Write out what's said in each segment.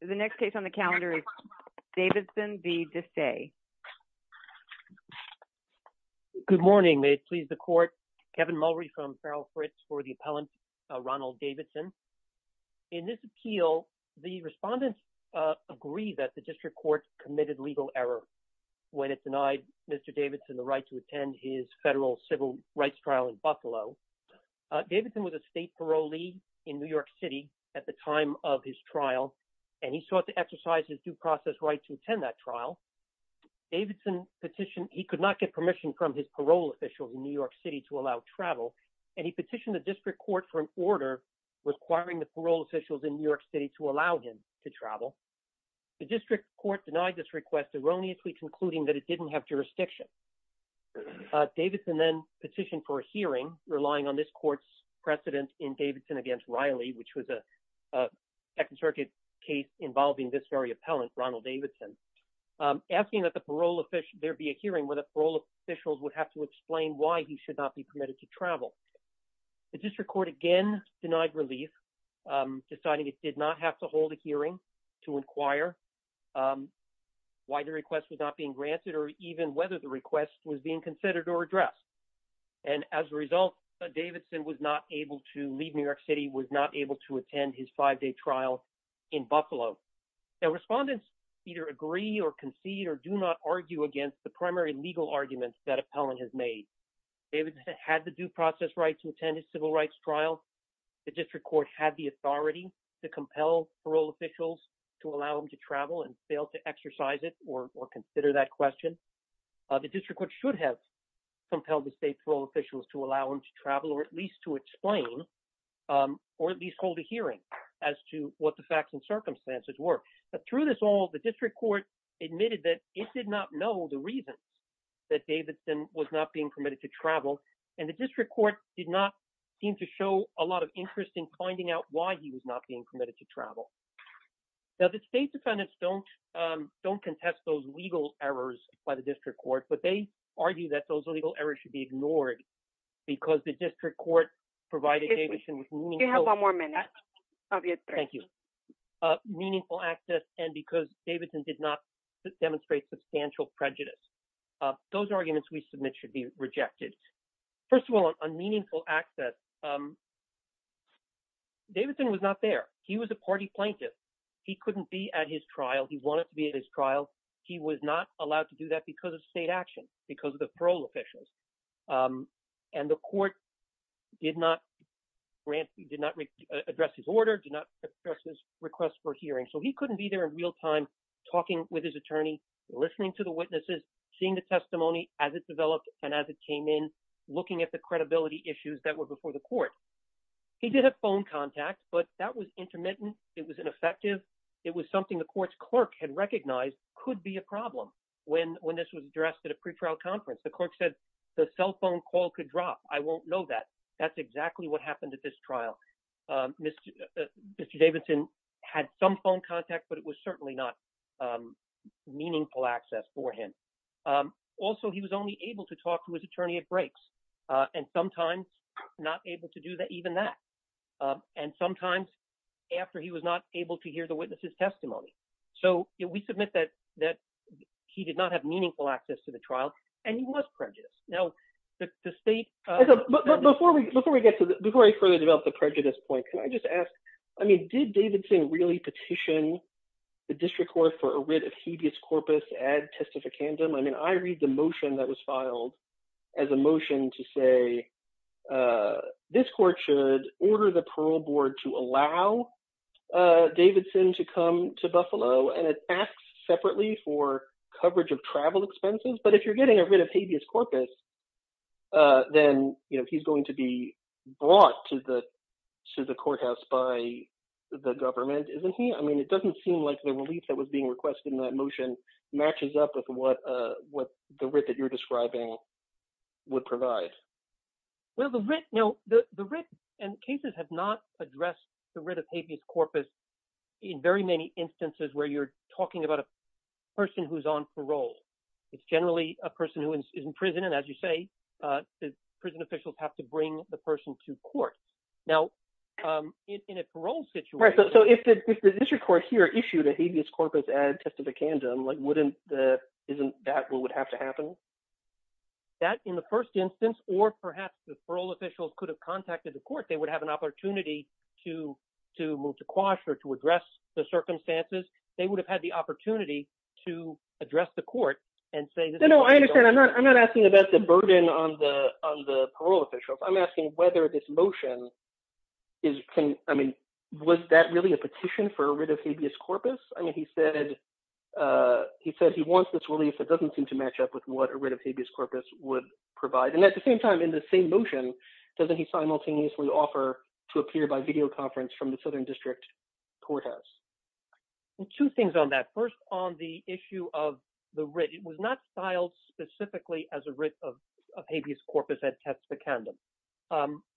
The next case on the calendar is Davidson v. Desai. Good morning. May it please the court. Kevin Mulrey from Farrell Fritz for the appellant Ronald Davidson. In this appeal, the respondents agree that the district court committed legal error when it denied Mr. Davidson the right to attend his federal civil rights trial in Buffalo. Davidson was a state parolee in New York City at the time of his trial and he sought to exercise his due process right to attend that trial. Davidson petitioned, he could not get permission from his parole officials in New York City to allow travel, and he petitioned the district court for an order requiring the parole officials in New York City to allow him to travel. The district court denied this request, erroneously concluding that it didn't have jurisdiction. Davidson then petitioned for a hearing relying on this court's precedent in Davidson v. Riley, which was a Second Circuit case involving this very appellant, Ronald Davidson, asking that there be a hearing where the parole officials would have to explain why he should not be permitted to travel. The district court again denied relief, deciding it did not have hold a hearing to inquire why the request was not being granted or even whether the request was being considered or addressed. And as a result, Davidson was not able to leave New York City, was not able to attend his five-day trial in Buffalo. The respondents either agree or concede or do not argue against the primary legal arguments that appellant has made. Davidson had the due process right to attend his civil rights trial. The district court had the authority to compel parole officials to allow him to travel and fail to exercise it or consider that question. The district court should have compelled the state parole officials to allow him to travel or at least to explain or at least hold a hearing as to what the facts and circumstances were. But through this all, the district court admitted that it did not know the reasons that Davidson was not being permitted to travel. And the district court did not seem to show a lot interest in finding out why he was not being permitted to travel. Now, the state defendants don't contest those legal errors by the district court, but they argue that those legal errors should be ignored because the district court provided Davidson with meaningful access and because Davidson did not demonstrate substantial prejudice. Those arguments we submit should be Davidson was not there. He was a party plaintiff. He couldn't be at his trial. He wanted to be at his trial. He was not allowed to do that because of state action, because of the parole officials. And the court did not grant, did not address his order, did not address his request for hearing. So he couldn't be there in real time, talking with his attorney, listening to the witnesses, seeing the testimony as it developed and as it came in, looking at the credibility issues that were before the court. He did have phone contact, but that was intermittent. It was ineffective. It was something the court's clerk had recognized could be a problem. When this was addressed at a pretrial conference, the clerk said the cell phone call could drop. I won't know that. That's exactly what happened at this trial. Mr. Davidson had some phone contact, but it was certainly not meaningful access for him. Also, he was only able to talk to his attorney at breaks and sometimes not able to do that, even that. And sometimes after he was not able to hear the witness's testimony. So we submit that he did not have meaningful access to the trial and he was prejudiced. Now, the state- Before I further develop the prejudice point, can I just ask, did Davidson really petition the district court for a writ of habeas corpus ad testificandum? I mean, I read the motion that was filed as a motion to say this court should order the parole board to allow Davidson to come to Buffalo and it asks separately for coverage of travel expenses. But if you're getting a writ of habeas corpus, then he's going to be brought to the courthouse by the government, isn't he? I mean, it doesn't seem like the relief that was being requested in that motion matches up with what the writ that you're describing would provide. Well, the writ and cases have not addressed the writ of habeas corpus in very many instances where you're talking about a person who's on parole. It's generally a person who is in prison. And as you say, prison officials have to bring the person to court. Now, in a parole situation- Right. So if the district court here issued a habeas corpus ad testificandum, isn't that what would have to happen? That in the first instance, or perhaps the parole officials could have contacted the court. They would have an opportunity to move to quash or to address the circumstances. They would have had the opportunity to address the court and say- No, no, I understand. I'm not asking about the burden on the parole officials. I'm asking whether this motion is... I mean, was that really a petition for a writ of habeas corpus? I mean, he said he wants this relief that doesn't seem to match up with what a writ of habeas corpus would provide. And at the same time, in the same motion, doesn't he simultaneously offer to appear by video conference from the Southern District courthouse? Two things on that. First, on the issue of the writ, it was not styled specifically as a writ of habeas corpus ad testificandum,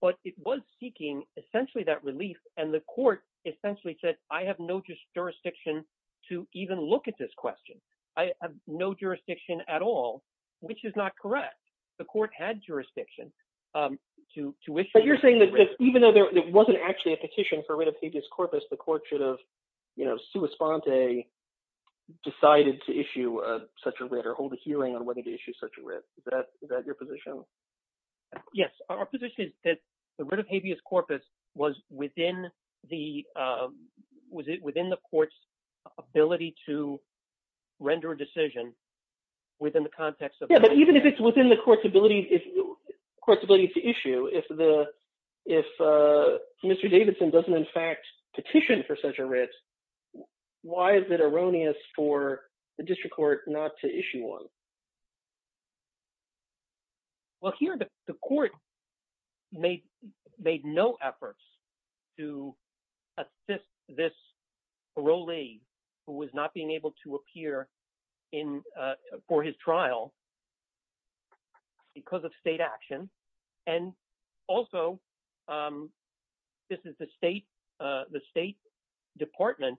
but it was seeking essentially that relief. And the court essentially said, I have no jurisdiction to even look at this question. I have no jurisdiction at all, which is not correct. The court had jurisdiction to issue- But you're saying that even though there wasn't actually a petition for a writ of habeas corpus, the court should have, you know, sua sponte, decided to issue such a writ or hold a hearing on whether to issue such a writ. Is that your position? Yes, our position is that the writ of habeas corpus was within the court's ability to render a decision within the context of- Yeah, but even if it's within the court's ability to issue, if Mr. Davidson doesn't in fact petition for such a writ, why is it erroneous for the district court not to issue one? Well, here the court made no efforts to assist this parolee who was not being able to appear for his trial because of state action. And also, this is the state department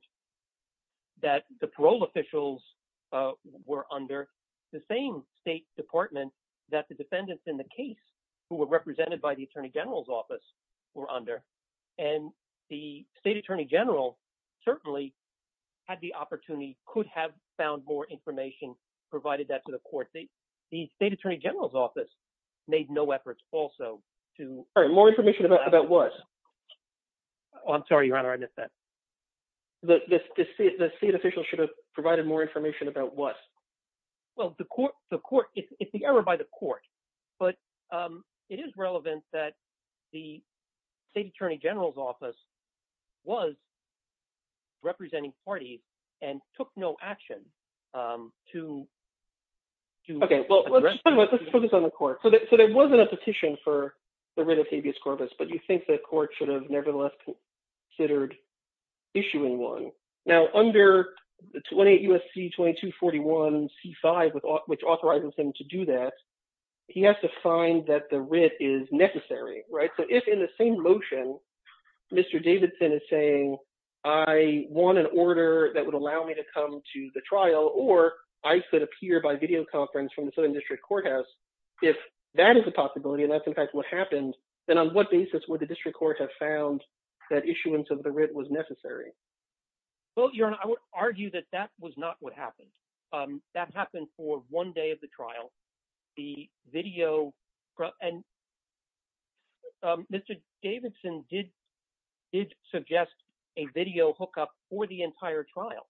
that the parole officials were under, the same state department that the defendants in the case who were represented by the attorney general's office were under. And the state attorney general certainly had the opportunity, could have found more information, provided that to the court. The state attorney general's office made no efforts also to- All right, more information about what? Oh, I'm sorry, Your Honor, I missed that. The state officials should have provided more information about what? Well, the court, it's the error by the court. But it is relevant that the state attorney general's office was representing parties and took no action to- Okay, well, let's focus on the court. So there wasn't a petition for the writ of habeas corpus, but you think the court should have nevertheless considered issuing one. Now, under 28 U.S.C. 2241 C5, which authorizes him to do that, he has to find that the writ is necessary, right? So if in the same motion, Mr. Davidson is saying, I want an order that would allow me to come to the trial, or I should appear by videoconference from the Southern District Courthouse, if that is a possibility, and that's in fact what happened, then on what basis would the district court have found that issuance of the writ was necessary? Well, Your Honor, I would argue that that was Davidson did suggest a video hookup for the entire trial.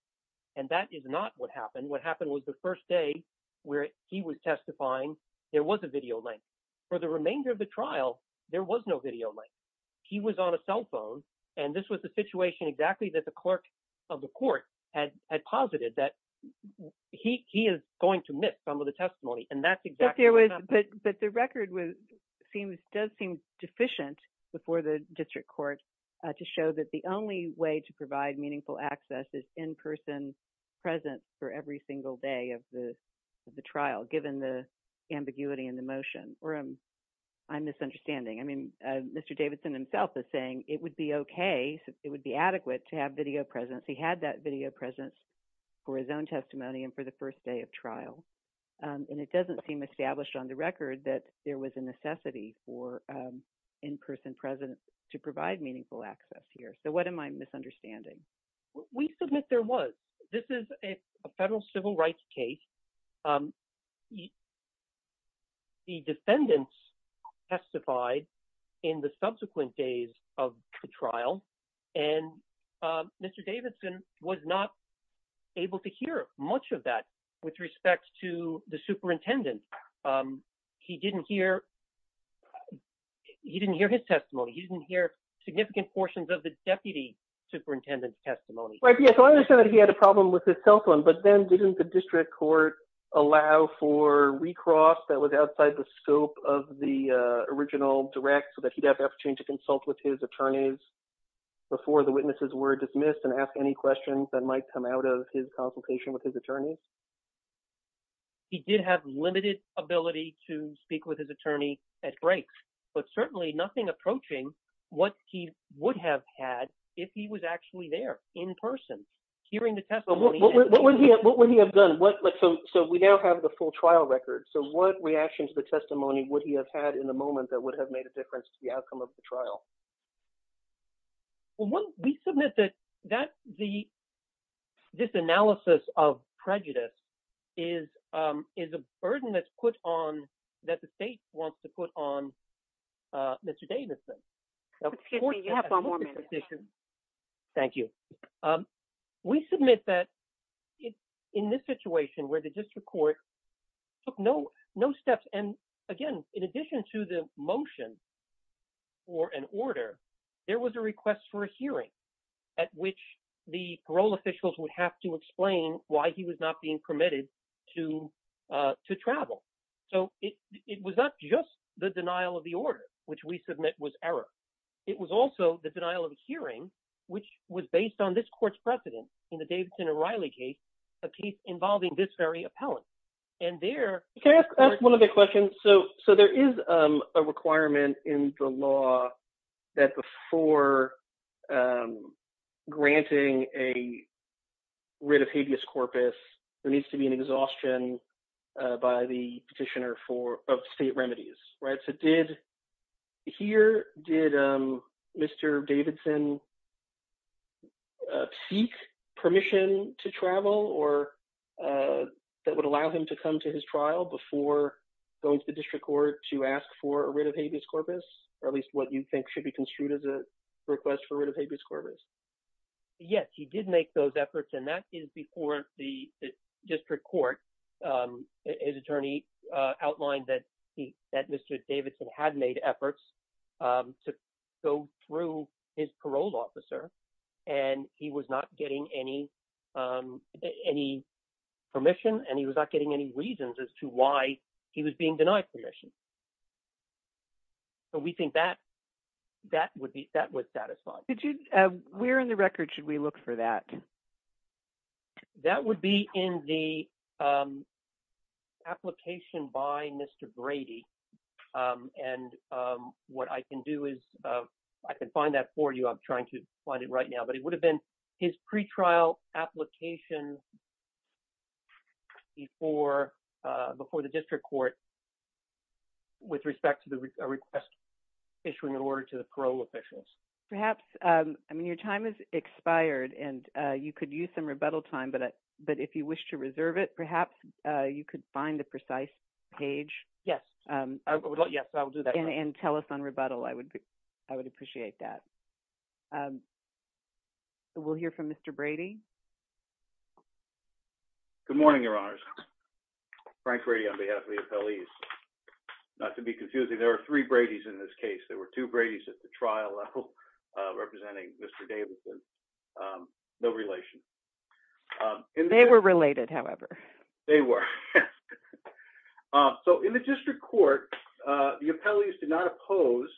And that is not what happened. What happened was the first day where he was testifying, there was a video link. For the remainder of the trial, there was no video link. He was on a cell phone. And this was the situation exactly that the clerk of the court had posited that he is going to miss some of the testimony. But the record does seem deficient before the district court to show that the only way to provide meaningful access is in-person presence for every single day of the trial, given the ambiguity in the motion. Or I'm misunderstanding. I mean, Mr. Davidson himself is saying it would be okay, it would be adequate to have video presence. He had that video presence for his own testimony and for the first day of trial. And it doesn't seem established on the record that there was a necessity for in-person presence to provide meaningful access here. So what am I misunderstanding? We submit there was. This is a federal civil rights case. The defendants testified in the subsequent days of the trial. And Mr. Davidson was not able to hear much of that with respect to the superintendent. He didn't hear his testimony. He didn't hear significant portions of the deputy superintendent's testimony. Right. Yeah. So I understand that he had a problem with his cell phone, but then didn't the district court allow for recross that was outside the scope of the original direct so that he'd have to consult with his attorneys before the witnesses were dismissed and ask any questions that might come out of his consultation with his attorneys? He did have limited ability to speak with his attorney at break, but certainly nothing approaching what he would have had if he was actually there in person hearing the testimony. What would he have done? So we now have the full trial record. So what reaction to the testimony would he have had in the moment that would have made a difference to the outcome of the trial? Well, we submit that this analysis of prejudice is a burden that's put on, that the state wants to put on Mr. Davidson. Excuse me, you have one more minute. Thank you. We submit that in this situation where the district court took no steps. And again, in addition to the motion or an order, there was a request for a hearing at which the parole officials would have to explain why he was not being permitted to travel. So it was not just the denial of the order, which we submit was error. It was also the denial of the hearing, which was based on this court's precedent in the Davidson and Riley case, a case involving this very appellant. And there... Can I ask one other question? So there is a requirement in the law that before granting a writ of habeas corpus, there needs to be an exhaustion by the petitioner of state permission to travel or that would allow him to come to his trial before going to the district court to ask for a writ of habeas corpus, or at least what you think should be construed as a request for a writ of habeas corpus. Yes, he did make those efforts. And that is before the district court. His attorney outlined that Mr. Davidson had made efforts to go through his any permission, and he was not getting any reasons as to why he was being denied permission. So we think that would satisfy. Where in the record should we look for that? That would be in the application by Mr. Brady. And what I can do is I can find that for you. I'm trying to find it right now, but it would have been his pretrial application before the district court with respect to the request issuing an order to the parole officials. Perhaps. I mean, your time has expired and you could use some rebuttal time, but if you wish to reserve it, perhaps you could find the precise page. Yes, I will do that. And tell us on rebuttal. I would appreciate that. So we'll hear from Mr. Brady. Good morning, Your Honors. Frank Brady on behalf of the appellees. Not to be confusing, there are three Brady's in this case. There were two Brady's at the trial level representing Mr. Davidson. No relation. They were related, however. They were. So in the district court, the appellees did not oppose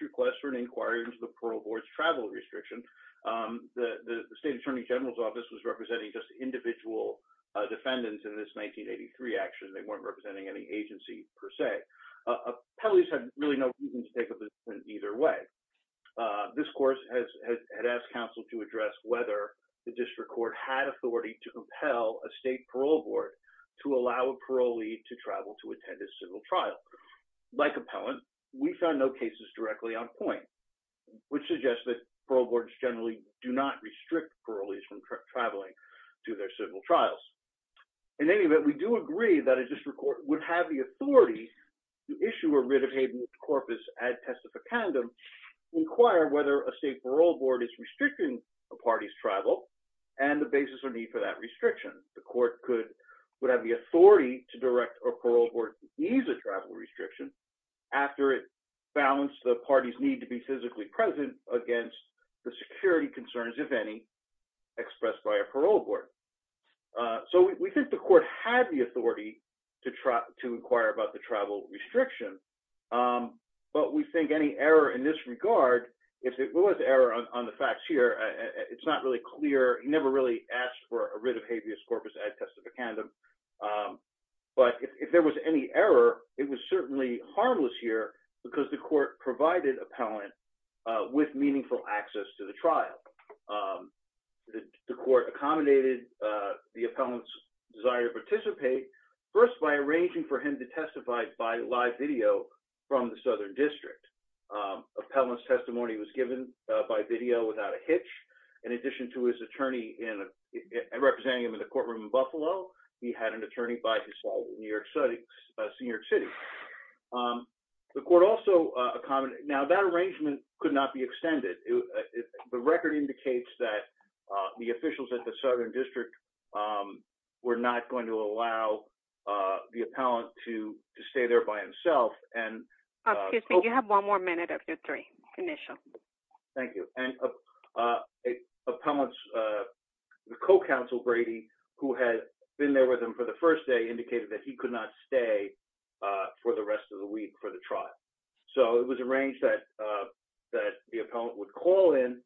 requests for an inquiry into the parole board's travel restriction. The state attorney general's office was representing just individual defendants in this 1983 action. They weren't representing any agency per se. Appellees had really no reason to take a position either way. This course has asked counsel to address whether the district court had authority to compel a state parole board to allow a parolee to travel to attend a civil trial. Like appellant, we found no cases directly on point, which suggests that parole boards generally do not restrict parolees from traveling to their civil trials. In any event, we do agree that a district court would have the authority to issue a writ of habeas corpus ad testificandum to inquire whether a state parole board is restricting a party's travel and the basis or need for that restriction. The court would have the authority to direct a parole board to ease a travel restriction after it balanced the party's need to be physically present against the security concerns, if any, expressed by a parole board. So we think the court had the authority to inquire about the travel restriction, but we think any error in this regard, if it was error on the facts here, it's not really clear. He never really asked for a writ of habeas corpus ad testificandum, but if there was any error, it was certainly harmless here because the court provided appellant with meaningful access to the trial. The court accommodated the appellant's desire to participate first by arranging for him to testify by live video from the southern district. Appellant's testimony was given by video without a hitch. In addition to his attorney representing him in the courtroom in Buffalo, he had an attorney by his side in New York City. The court also accommodated, now that arrangement could not be extended. The record indicates that the officials at the southern district were not going to allow the appellant to stay there by himself. Excuse me, you have one more minute of your three, initial. Thank you. Appellant's co-counsel, Brady, who had been there with him for the first day, indicated that he could not stay for the rest of the week for the trial. So it was arranged that the appellant would call in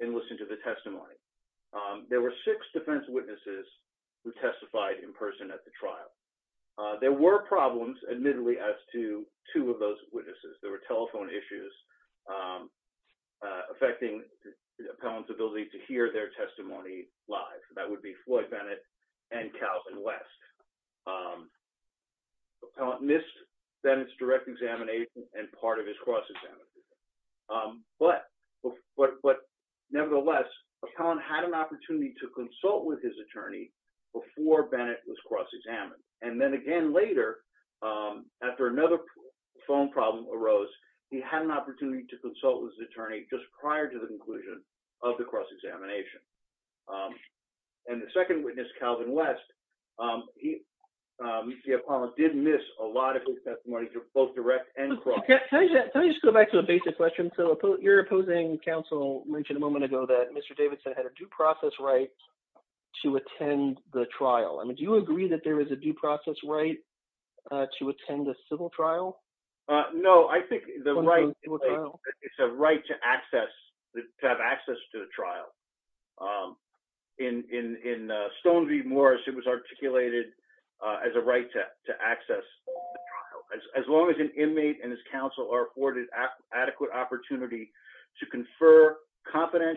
and listen to the testimony. There were six defense witnesses who testified in person at the trial. There were problems, admittedly, as to two of those witnesses. There were telephone issues affecting the appellant's ability to hear their testimony live. That would be Floyd Bennett and Calvin West. Appellant missed Bennett's direct examination and part of his cross-examination. But nevertheless, appellant had an opportunity to consult with his attorney before Bennett was cross-examined. And then again later, after another phone problem arose, he had an opportunity to consult with his attorney just prior to the conclusion of the cross-examination. And the second witness, Calvin West, the appellant did miss a lot of his testimony, both direct and cross. Can I just go back to a basic question? So your opposing counsel mentioned a moment ago that Mr. Davidson had a due process right to attend the trial. I mean, do you agree that there is a due process right to attend a civil trial? No, I think it's a right to access, to have access to the trial. In Stone v. Morris, it was articulated as a right to access the trial. As long as an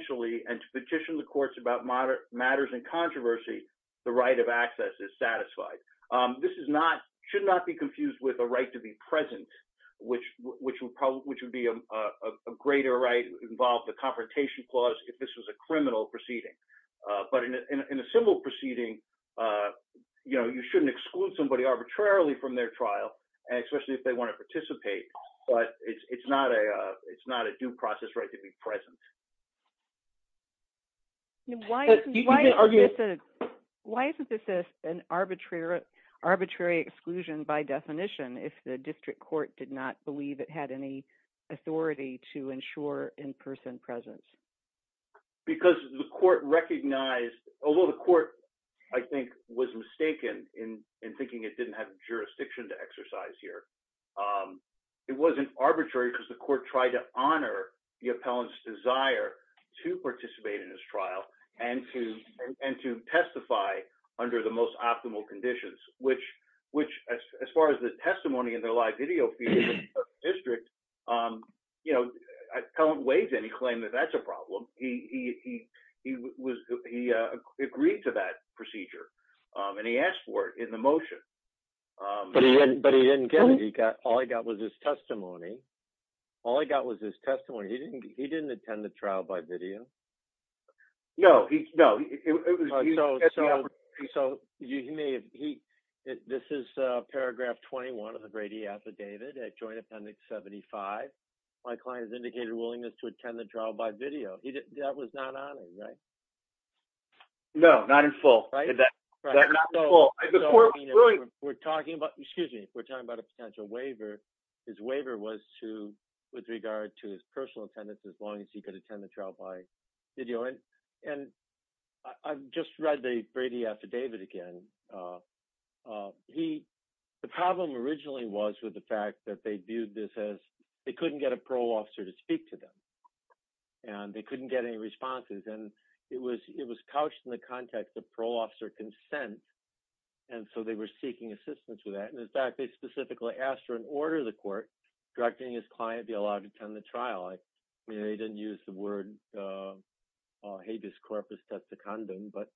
attorney can petition the courts about matters in controversy, the right of access is satisfied. This should not be confused with a right to be present, which would be a greater right involved the confrontation clause if this was a criminal proceeding. But in a civil proceeding, you shouldn't exclude somebody arbitrarily from their trial, especially if they want to participate. But it's not a due process right to be present. Why isn't this an arbitrary exclusion by definition if the district court did not believe it had any authority to ensure in-person presence? Because the court recognized, although the court, I think, was mistaken in thinking it didn't have jurisdiction to exercise here, it wasn't arbitrary because the court tried to honor the appellant's desire to participate in this trial and to testify under the most optimal conditions, which as far as the testimony in the live video feed of the district, the appellant waived any claim that that's a problem. He agreed to that procedure and he asked for it in the motion. But he didn't get it. All he got was his testimony. He didn't attend the trial by video. No, no. So you may have, this is paragraph 21 of the Brady affidavit at joint appendix 75. My client has indicated willingness to attend the trial by video. That was not on it, right? No, not in full. We're talking about, excuse me, we're talking about a potential waiver. His waiver was to with regard to his personal attendance as long as he could attend the trial by video. And I've just read the Brady affidavit again. The problem originally was with the fact that they viewed this as they couldn't get a parole officer to speak to them. And they couldn't get any responses. And it was couched in the context of parole officer consent. And so they were seeking assistance with that. And in fact, they specifically asked for an order the court directing his client be allowed to attend the trial. I mean, they didn't use the word habeas corpus testicondum, but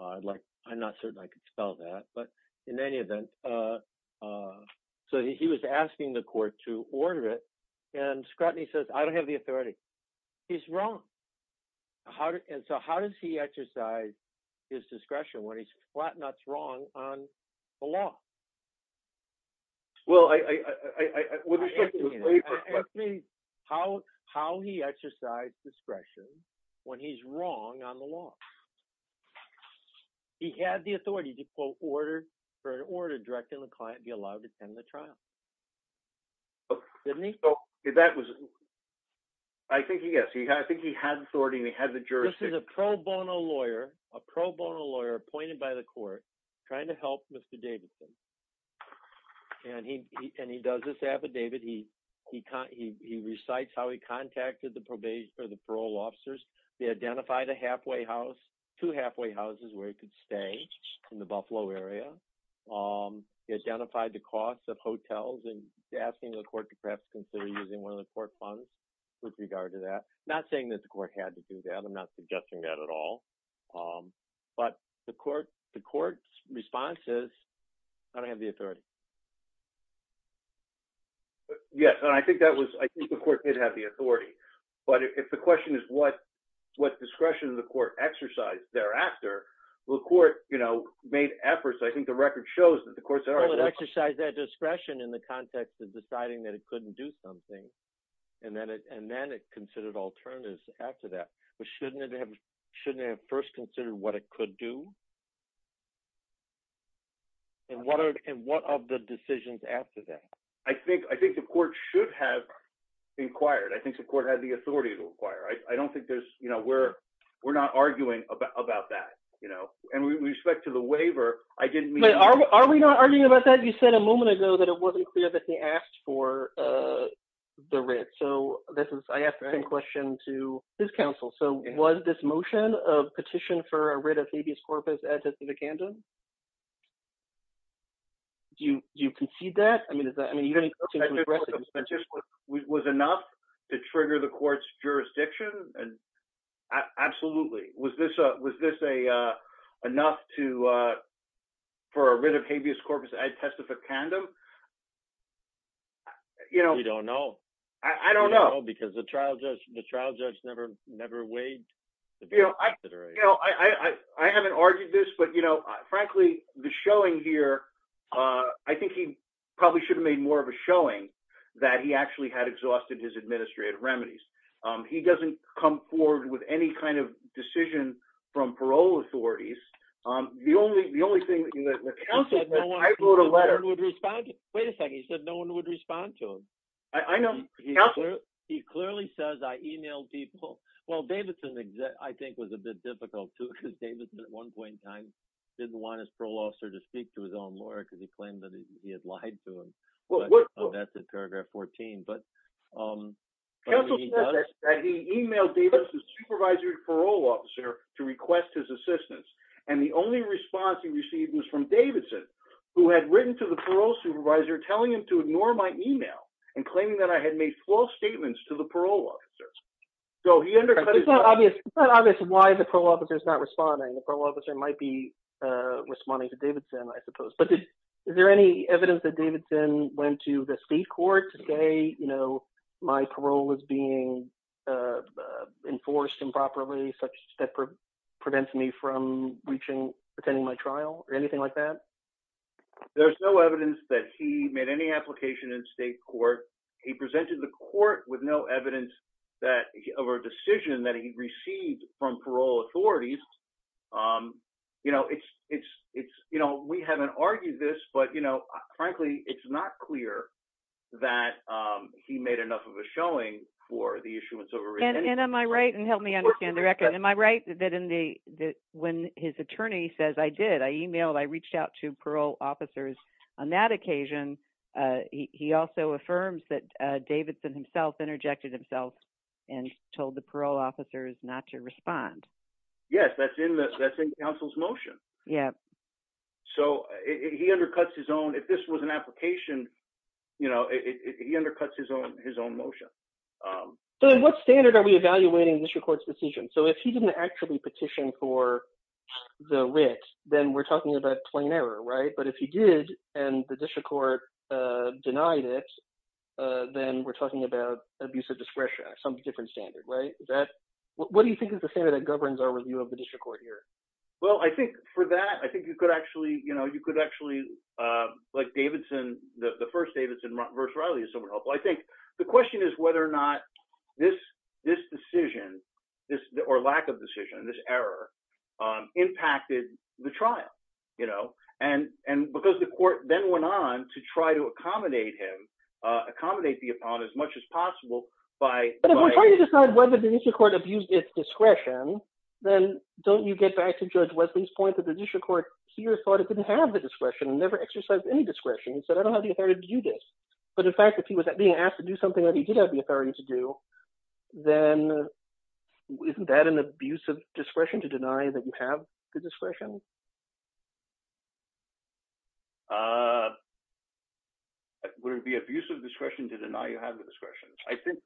I'd like, I'm not certain I could spell that. But in any event, so he was asking the court to order it. And Scrutiny says, I don't have the authority. He's wrong. And so how does he exercise his discretion when he's flat nuts wrong on the law? Well, I would be how, how he exercised discretion when he's wrong on the law. He had the authority to quote order for an order directing the client be allowed to attend the trial. Oh, didn't he? Oh, that was. I think he gets he I think he had authority and he had the pro bono lawyer, a pro bono lawyer appointed by the court trying to help Mr. Davidson. And he and he does this affidavit. He he he recites how he contacted the probation for the parole officers. They identified a halfway house to halfway houses where he could stay in the Buffalo area. He identified the cost of hotels and asking the court to perhaps consider using one of the court funds with regard to that. Not saying that the court had to do that. I'm not suggesting that at all. But the court the court's response is I don't have the authority. Yes, I think that was I think the court did have the authority. But if the question is what what discretion the court exercise thereafter, the court, you know, made efforts. I think the record shows that the courts exercise that discretion in the context of deciding that it couldn't do something. And then and then it considered alternatives after that. But shouldn't it have shouldn't have first considered what it could do? And what are and what of the decisions after that? I think I think the court should have inquired. I think the court had the authority to inquire. I don't think there's you know, we're we're not arguing about that, you know, and we respect to the waiver. I didn't mean are we not arguing about that? You said a moment ago that it wasn't clear that he asked for the writ. So this is I asked the same question to his counsel. So was this motion of petition for a writ of habeas corpus ad testificandum? Do you do you concede that? I mean, is that I mean, was enough to trigger the court's jurisdiction? And absolutely. Was this was this a enough to for a writ of habeas corpus ad testificandum? You know, we don't know. I don't know. Because the trial judge, the trial judge never, never weighed. You know, I haven't argued this. But you know, frankly, the showing here, I think he probably should have made more of a showing that he actually had exhausted his administrative remedies. He doesn't come forward with any kind of decision from parole authorities. The only the only thing that I wrote a letter would respond to, wait a second, he said no one would respond to him. I know. He clearly says I emailed people. Well, Davidson, I think was a bit difficult to because Davidson at one point in time, didn't want his parole officer to speak to his own lawyer because he claimed that he had lied to him. Well, that's in paragraph 14. But he emailed the supervisory parole officer to request his assistance. And the only response he received was from Davidson, who had written to the parole supervisor telling him to ignore my email and claiming that I had made false statements to the parole officers. So he undercut obvious obvious why the parole officer is not responding. The parole officer might be responding to Davidson, I suppose. But is there any evidence that Davidson went to the state court today? You know, my parole is being enforced improperly such that prevents me from reaching attending my trial or anything like that. There's no evidence that he made any application in state court. He presented the court with no evidence that of a decision that he received from parole authorities. You know, it's it's it's you know, we haven't argued this, but you know, frankly, it's not clear that he made enough of a showing for the issuance of And am I right and help me understand the record. Am I right that in the when his attorney says I did I emailed I reached out to parole officers. On that occasion, he also affirms that Davidson himself interjected himself and told the parole officers not to respond. Yes, that's in the council's motion. Yeah. So he undercuts his own if this was an are we evaluating this record's decision. So if he didn't actually petition for the wit, then we're talking about plain error. Right. But if he did, and the district court denied it, then we're talking about abuse of discretion, some different standard, right, that what do you think is the standard that governs our review of the district court here? Well, I think for that, I think you could actually, you know, you could actually, like Davidson, the first Davidson versus Riley is so helpful. I think the question is whether or not this, this decision, this or lack of decision, this error, impacted the trial, you know, and, and because the court then went on to try to accommodate him accommodate the upon as much as possible by whether the court abused its discretion, then don't you get back to judge Wesley's point that the district court here thought it didn't have the discretion and never exercised any discretion. So I don't have the authority to do this. But in fact, if he was being asked to do something that he did have the authority to do, then isn't that an abuse of discretion to deny that you have the discretion? Would it be abuse of discretion to deny you have the discretion? I think,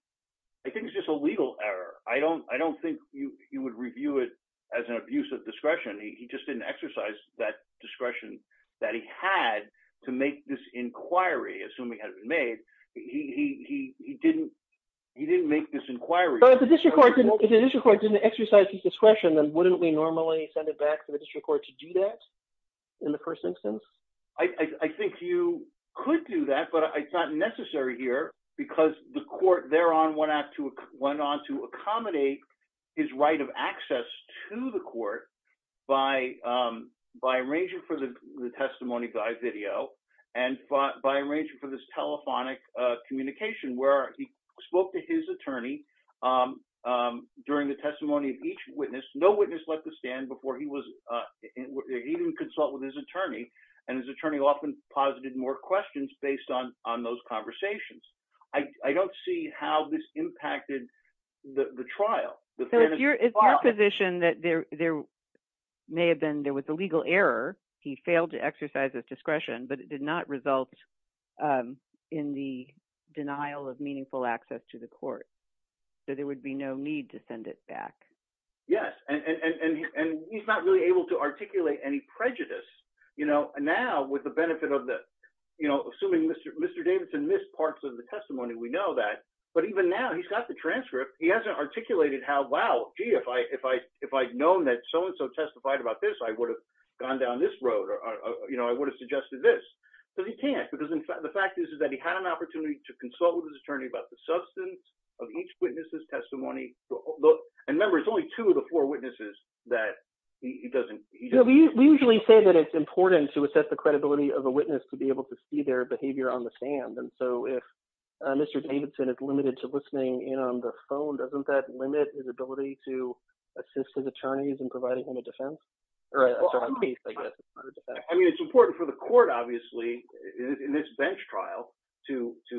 I think it's just a legal error. I don't I don't think you would review it as an abuse of discretion. He just didn't exercise that discretion that he had to make this inquiry assuming had been made. He didn't, he didn't make this inquiry. But if the district court didn't exercise his discretion, then wouldn't we normally send it back to the district court to do that? In the first instance? I think you could do that. But it's not necessary here, because the court there on went out to went on to accommodate his right of access to the court by by arranging for the testimony by video, and by arranging for this telephonic communication where he spoke to his attorney. During the testimony of each witness, no witness let the stand before he was even consult with his attorney, and his attorney often posited more questions based on on those conversations. I don't see how this impacted the trial. The position that there, there may have been there was a legal error, he failed to exercise his discretion, but it did not result in the denial of meaningful access to the court. So there would be no need to send it back. Yes, and he's not really able to articulate any prejudice, you know, now with the benefit of the, you know, assuming Mr. Mr. Davidson missed parts of the testimony, we know that, but even now he's got the transcript, he hasn't articulated how Wow, gee, if I if I, if I'd known that so and so testified about this, I would have gone down this road, or, you know, I would have suggested this. So he can't, because in fact, the fact is, is that he had an opportunity to consult with his attorney about the substance of each witnesses testimony. And remember, it's only two of the four witnesses that he doesn't, we usually say that it's important to assess the credibility of a witness to be able to see their behavior on the stand. And so if Mr. Davidson is limited to listening in on the phone, doesn't that limit his ability to assist with attorneys and providing him a defense? I mean, it's important for the court, obviously, in this bench trial, to, to,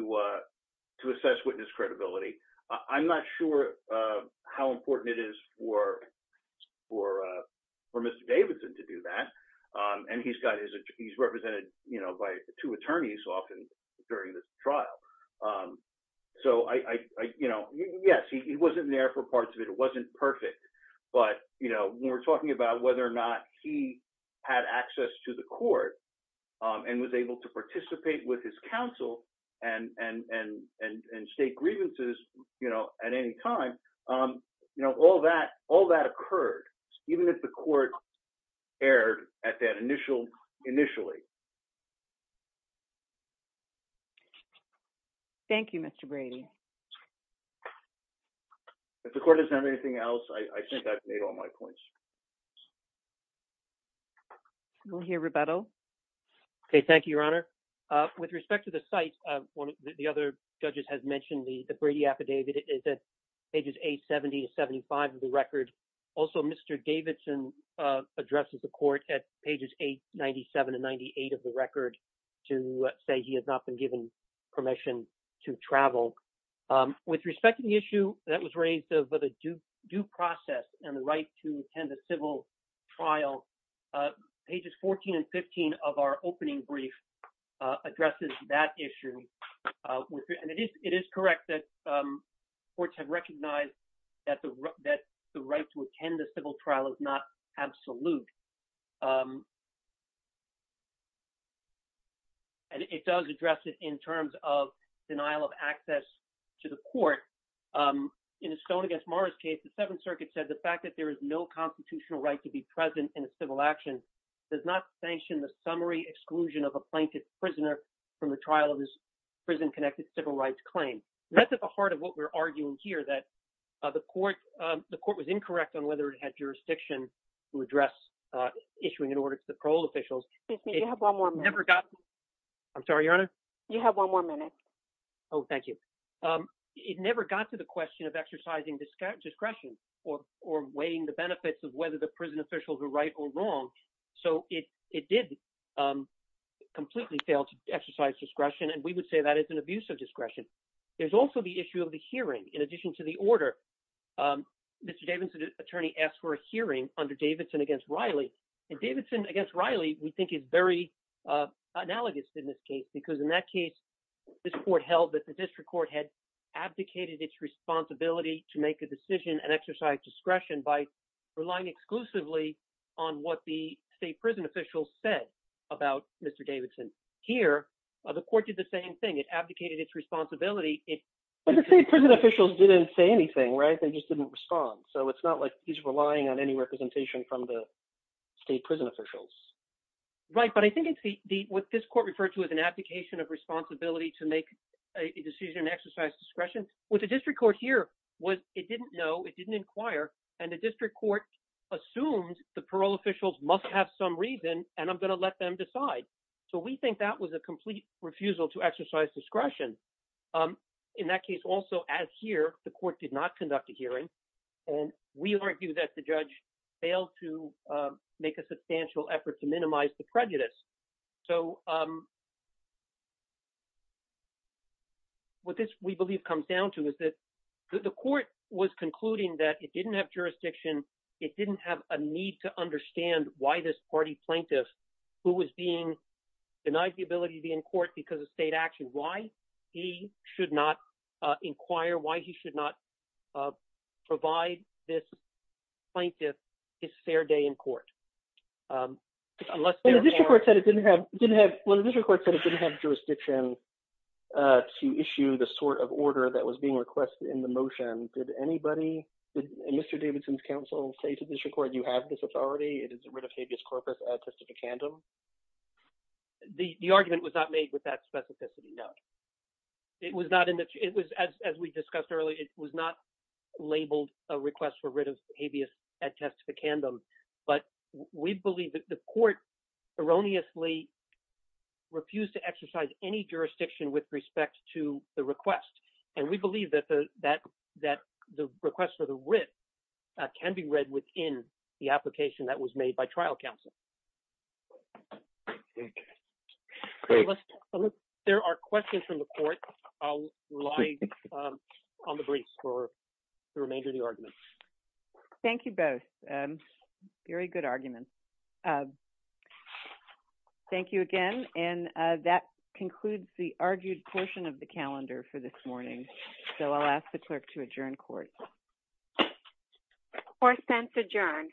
to assess witness credibility. I'm not sure how important it is for, for, for Mr. Davidson to do that. And he's got his, he's represented, you know, by two attorneys often during the trial. So I, you know, yes, he wasn't there for parts of it, it wasn't perfect. But, you know, we're talking about whether or not he had access to the court, and was able to participate with his counsel, and, and, and, and state grievances, you know, at any time, you know, all that all that occurred, even if the court erred at that initial initially. Thank you, Mr. Brady. If the court doesn't have anything else, I think that made all my points. Go here, Roberto. Okay, thank you, Your Honor. With respect to the site, one of the other judges has mentioned the Brady affidavit is at pages 870 to 75 of the record. Also, Mr. Davidson addresses the court at pages 897 and 98 of the record to say he has not been given permission to travel. With respect to the issue that was raised of the due process and the right to attend a civil trial, pages 14 and 15 of our opening brief addresses that issue. And it is correct that courts have recognized that the right to attend a civil trial is not absolute. And it does address it in terms of denial of access to the court. In the Stone v. Morris case, the Seventh Circuit said the fact that there is no constitutional right to be present in a civil action does not sanction the summary exclusion of a plaintiff's prisoner from the trial of his prison-connected civil rights claim. That's at the heart of what we're arguing here, that the court was incorrect on whether it had jurisdiction to address issuing an order to the parole officials. Excuse me, you have one more minute. I'm sorry, Your Honor? You have one more minute. Oh, thank you. It never got to the question of exercising discretion or weighing the benefits of whether the prison officials were right or wrong. So it did completely fail to exercise discretion, and we would say that is an abuse of discretion. There's also the issue of hearing. In addition to the order, Mr. Davidson's attorney asked for a hearing under Davidson against Riley. And Davidson against Riley, we think, is very analogous in this case, because in that case, this court held that the district court had abdicated its responsibility to make a decision and exercise discretion by relying exclusively on what the state prison officials said about Mr. Davidson. Here, the court did the same thing. It abdicated its responsibility. But the state prison officials didn't say anything, right? They just didn't respond. So it's not like he's relying on any representation from the state prison officials. Right. But I think it's what this court referred to as an abdication of responsibility to make a decision and exercise discretion. What the district court here was it didn't know, it didn't inquire, and the district court assumed the parole officials must have some reason, and I'm going to let them decide. So we think that was a complete refusal to exercise discretion. In that case, also, as here, the court did not conduct a hearing, and we argue that the judge failed to make a substantial effort to minimize the prejudice. So what this, we believe, comes down to is that the court was concluding that it didn't have jurisdiction, it didn't have a need to understand why this party plaintiff, who was being denied the ability to be in court because of state action, why he should not inquire, why he should not provide this plaintiff his fair day in court. When the district court said it didn't have jurisdiction to issue the sort of order that was being requested in the motion, did anybody, did Mr. Davidson's counsel say to the district court, you have this authority, it is a writ of habeas corpus at testificandum? The argument was not made with that specificity, no. It was not, as we discussed earlier, it was not labeled a request for writ of habeas at testificandum, but we believe that the court erroneously refused to exercise any jurisdiction with respect to the request, and we believe that the request for the writ can be read within the application that was made by trial counsel. There are questions from the court. I'll rely on the briefs for the remainder of the argument. Thank you both. Very good arguments. Thank you again, and that concludes the argued portion of the calendar for this morning, so I'll ask the clerk to adjourn court. The court stands adjourned.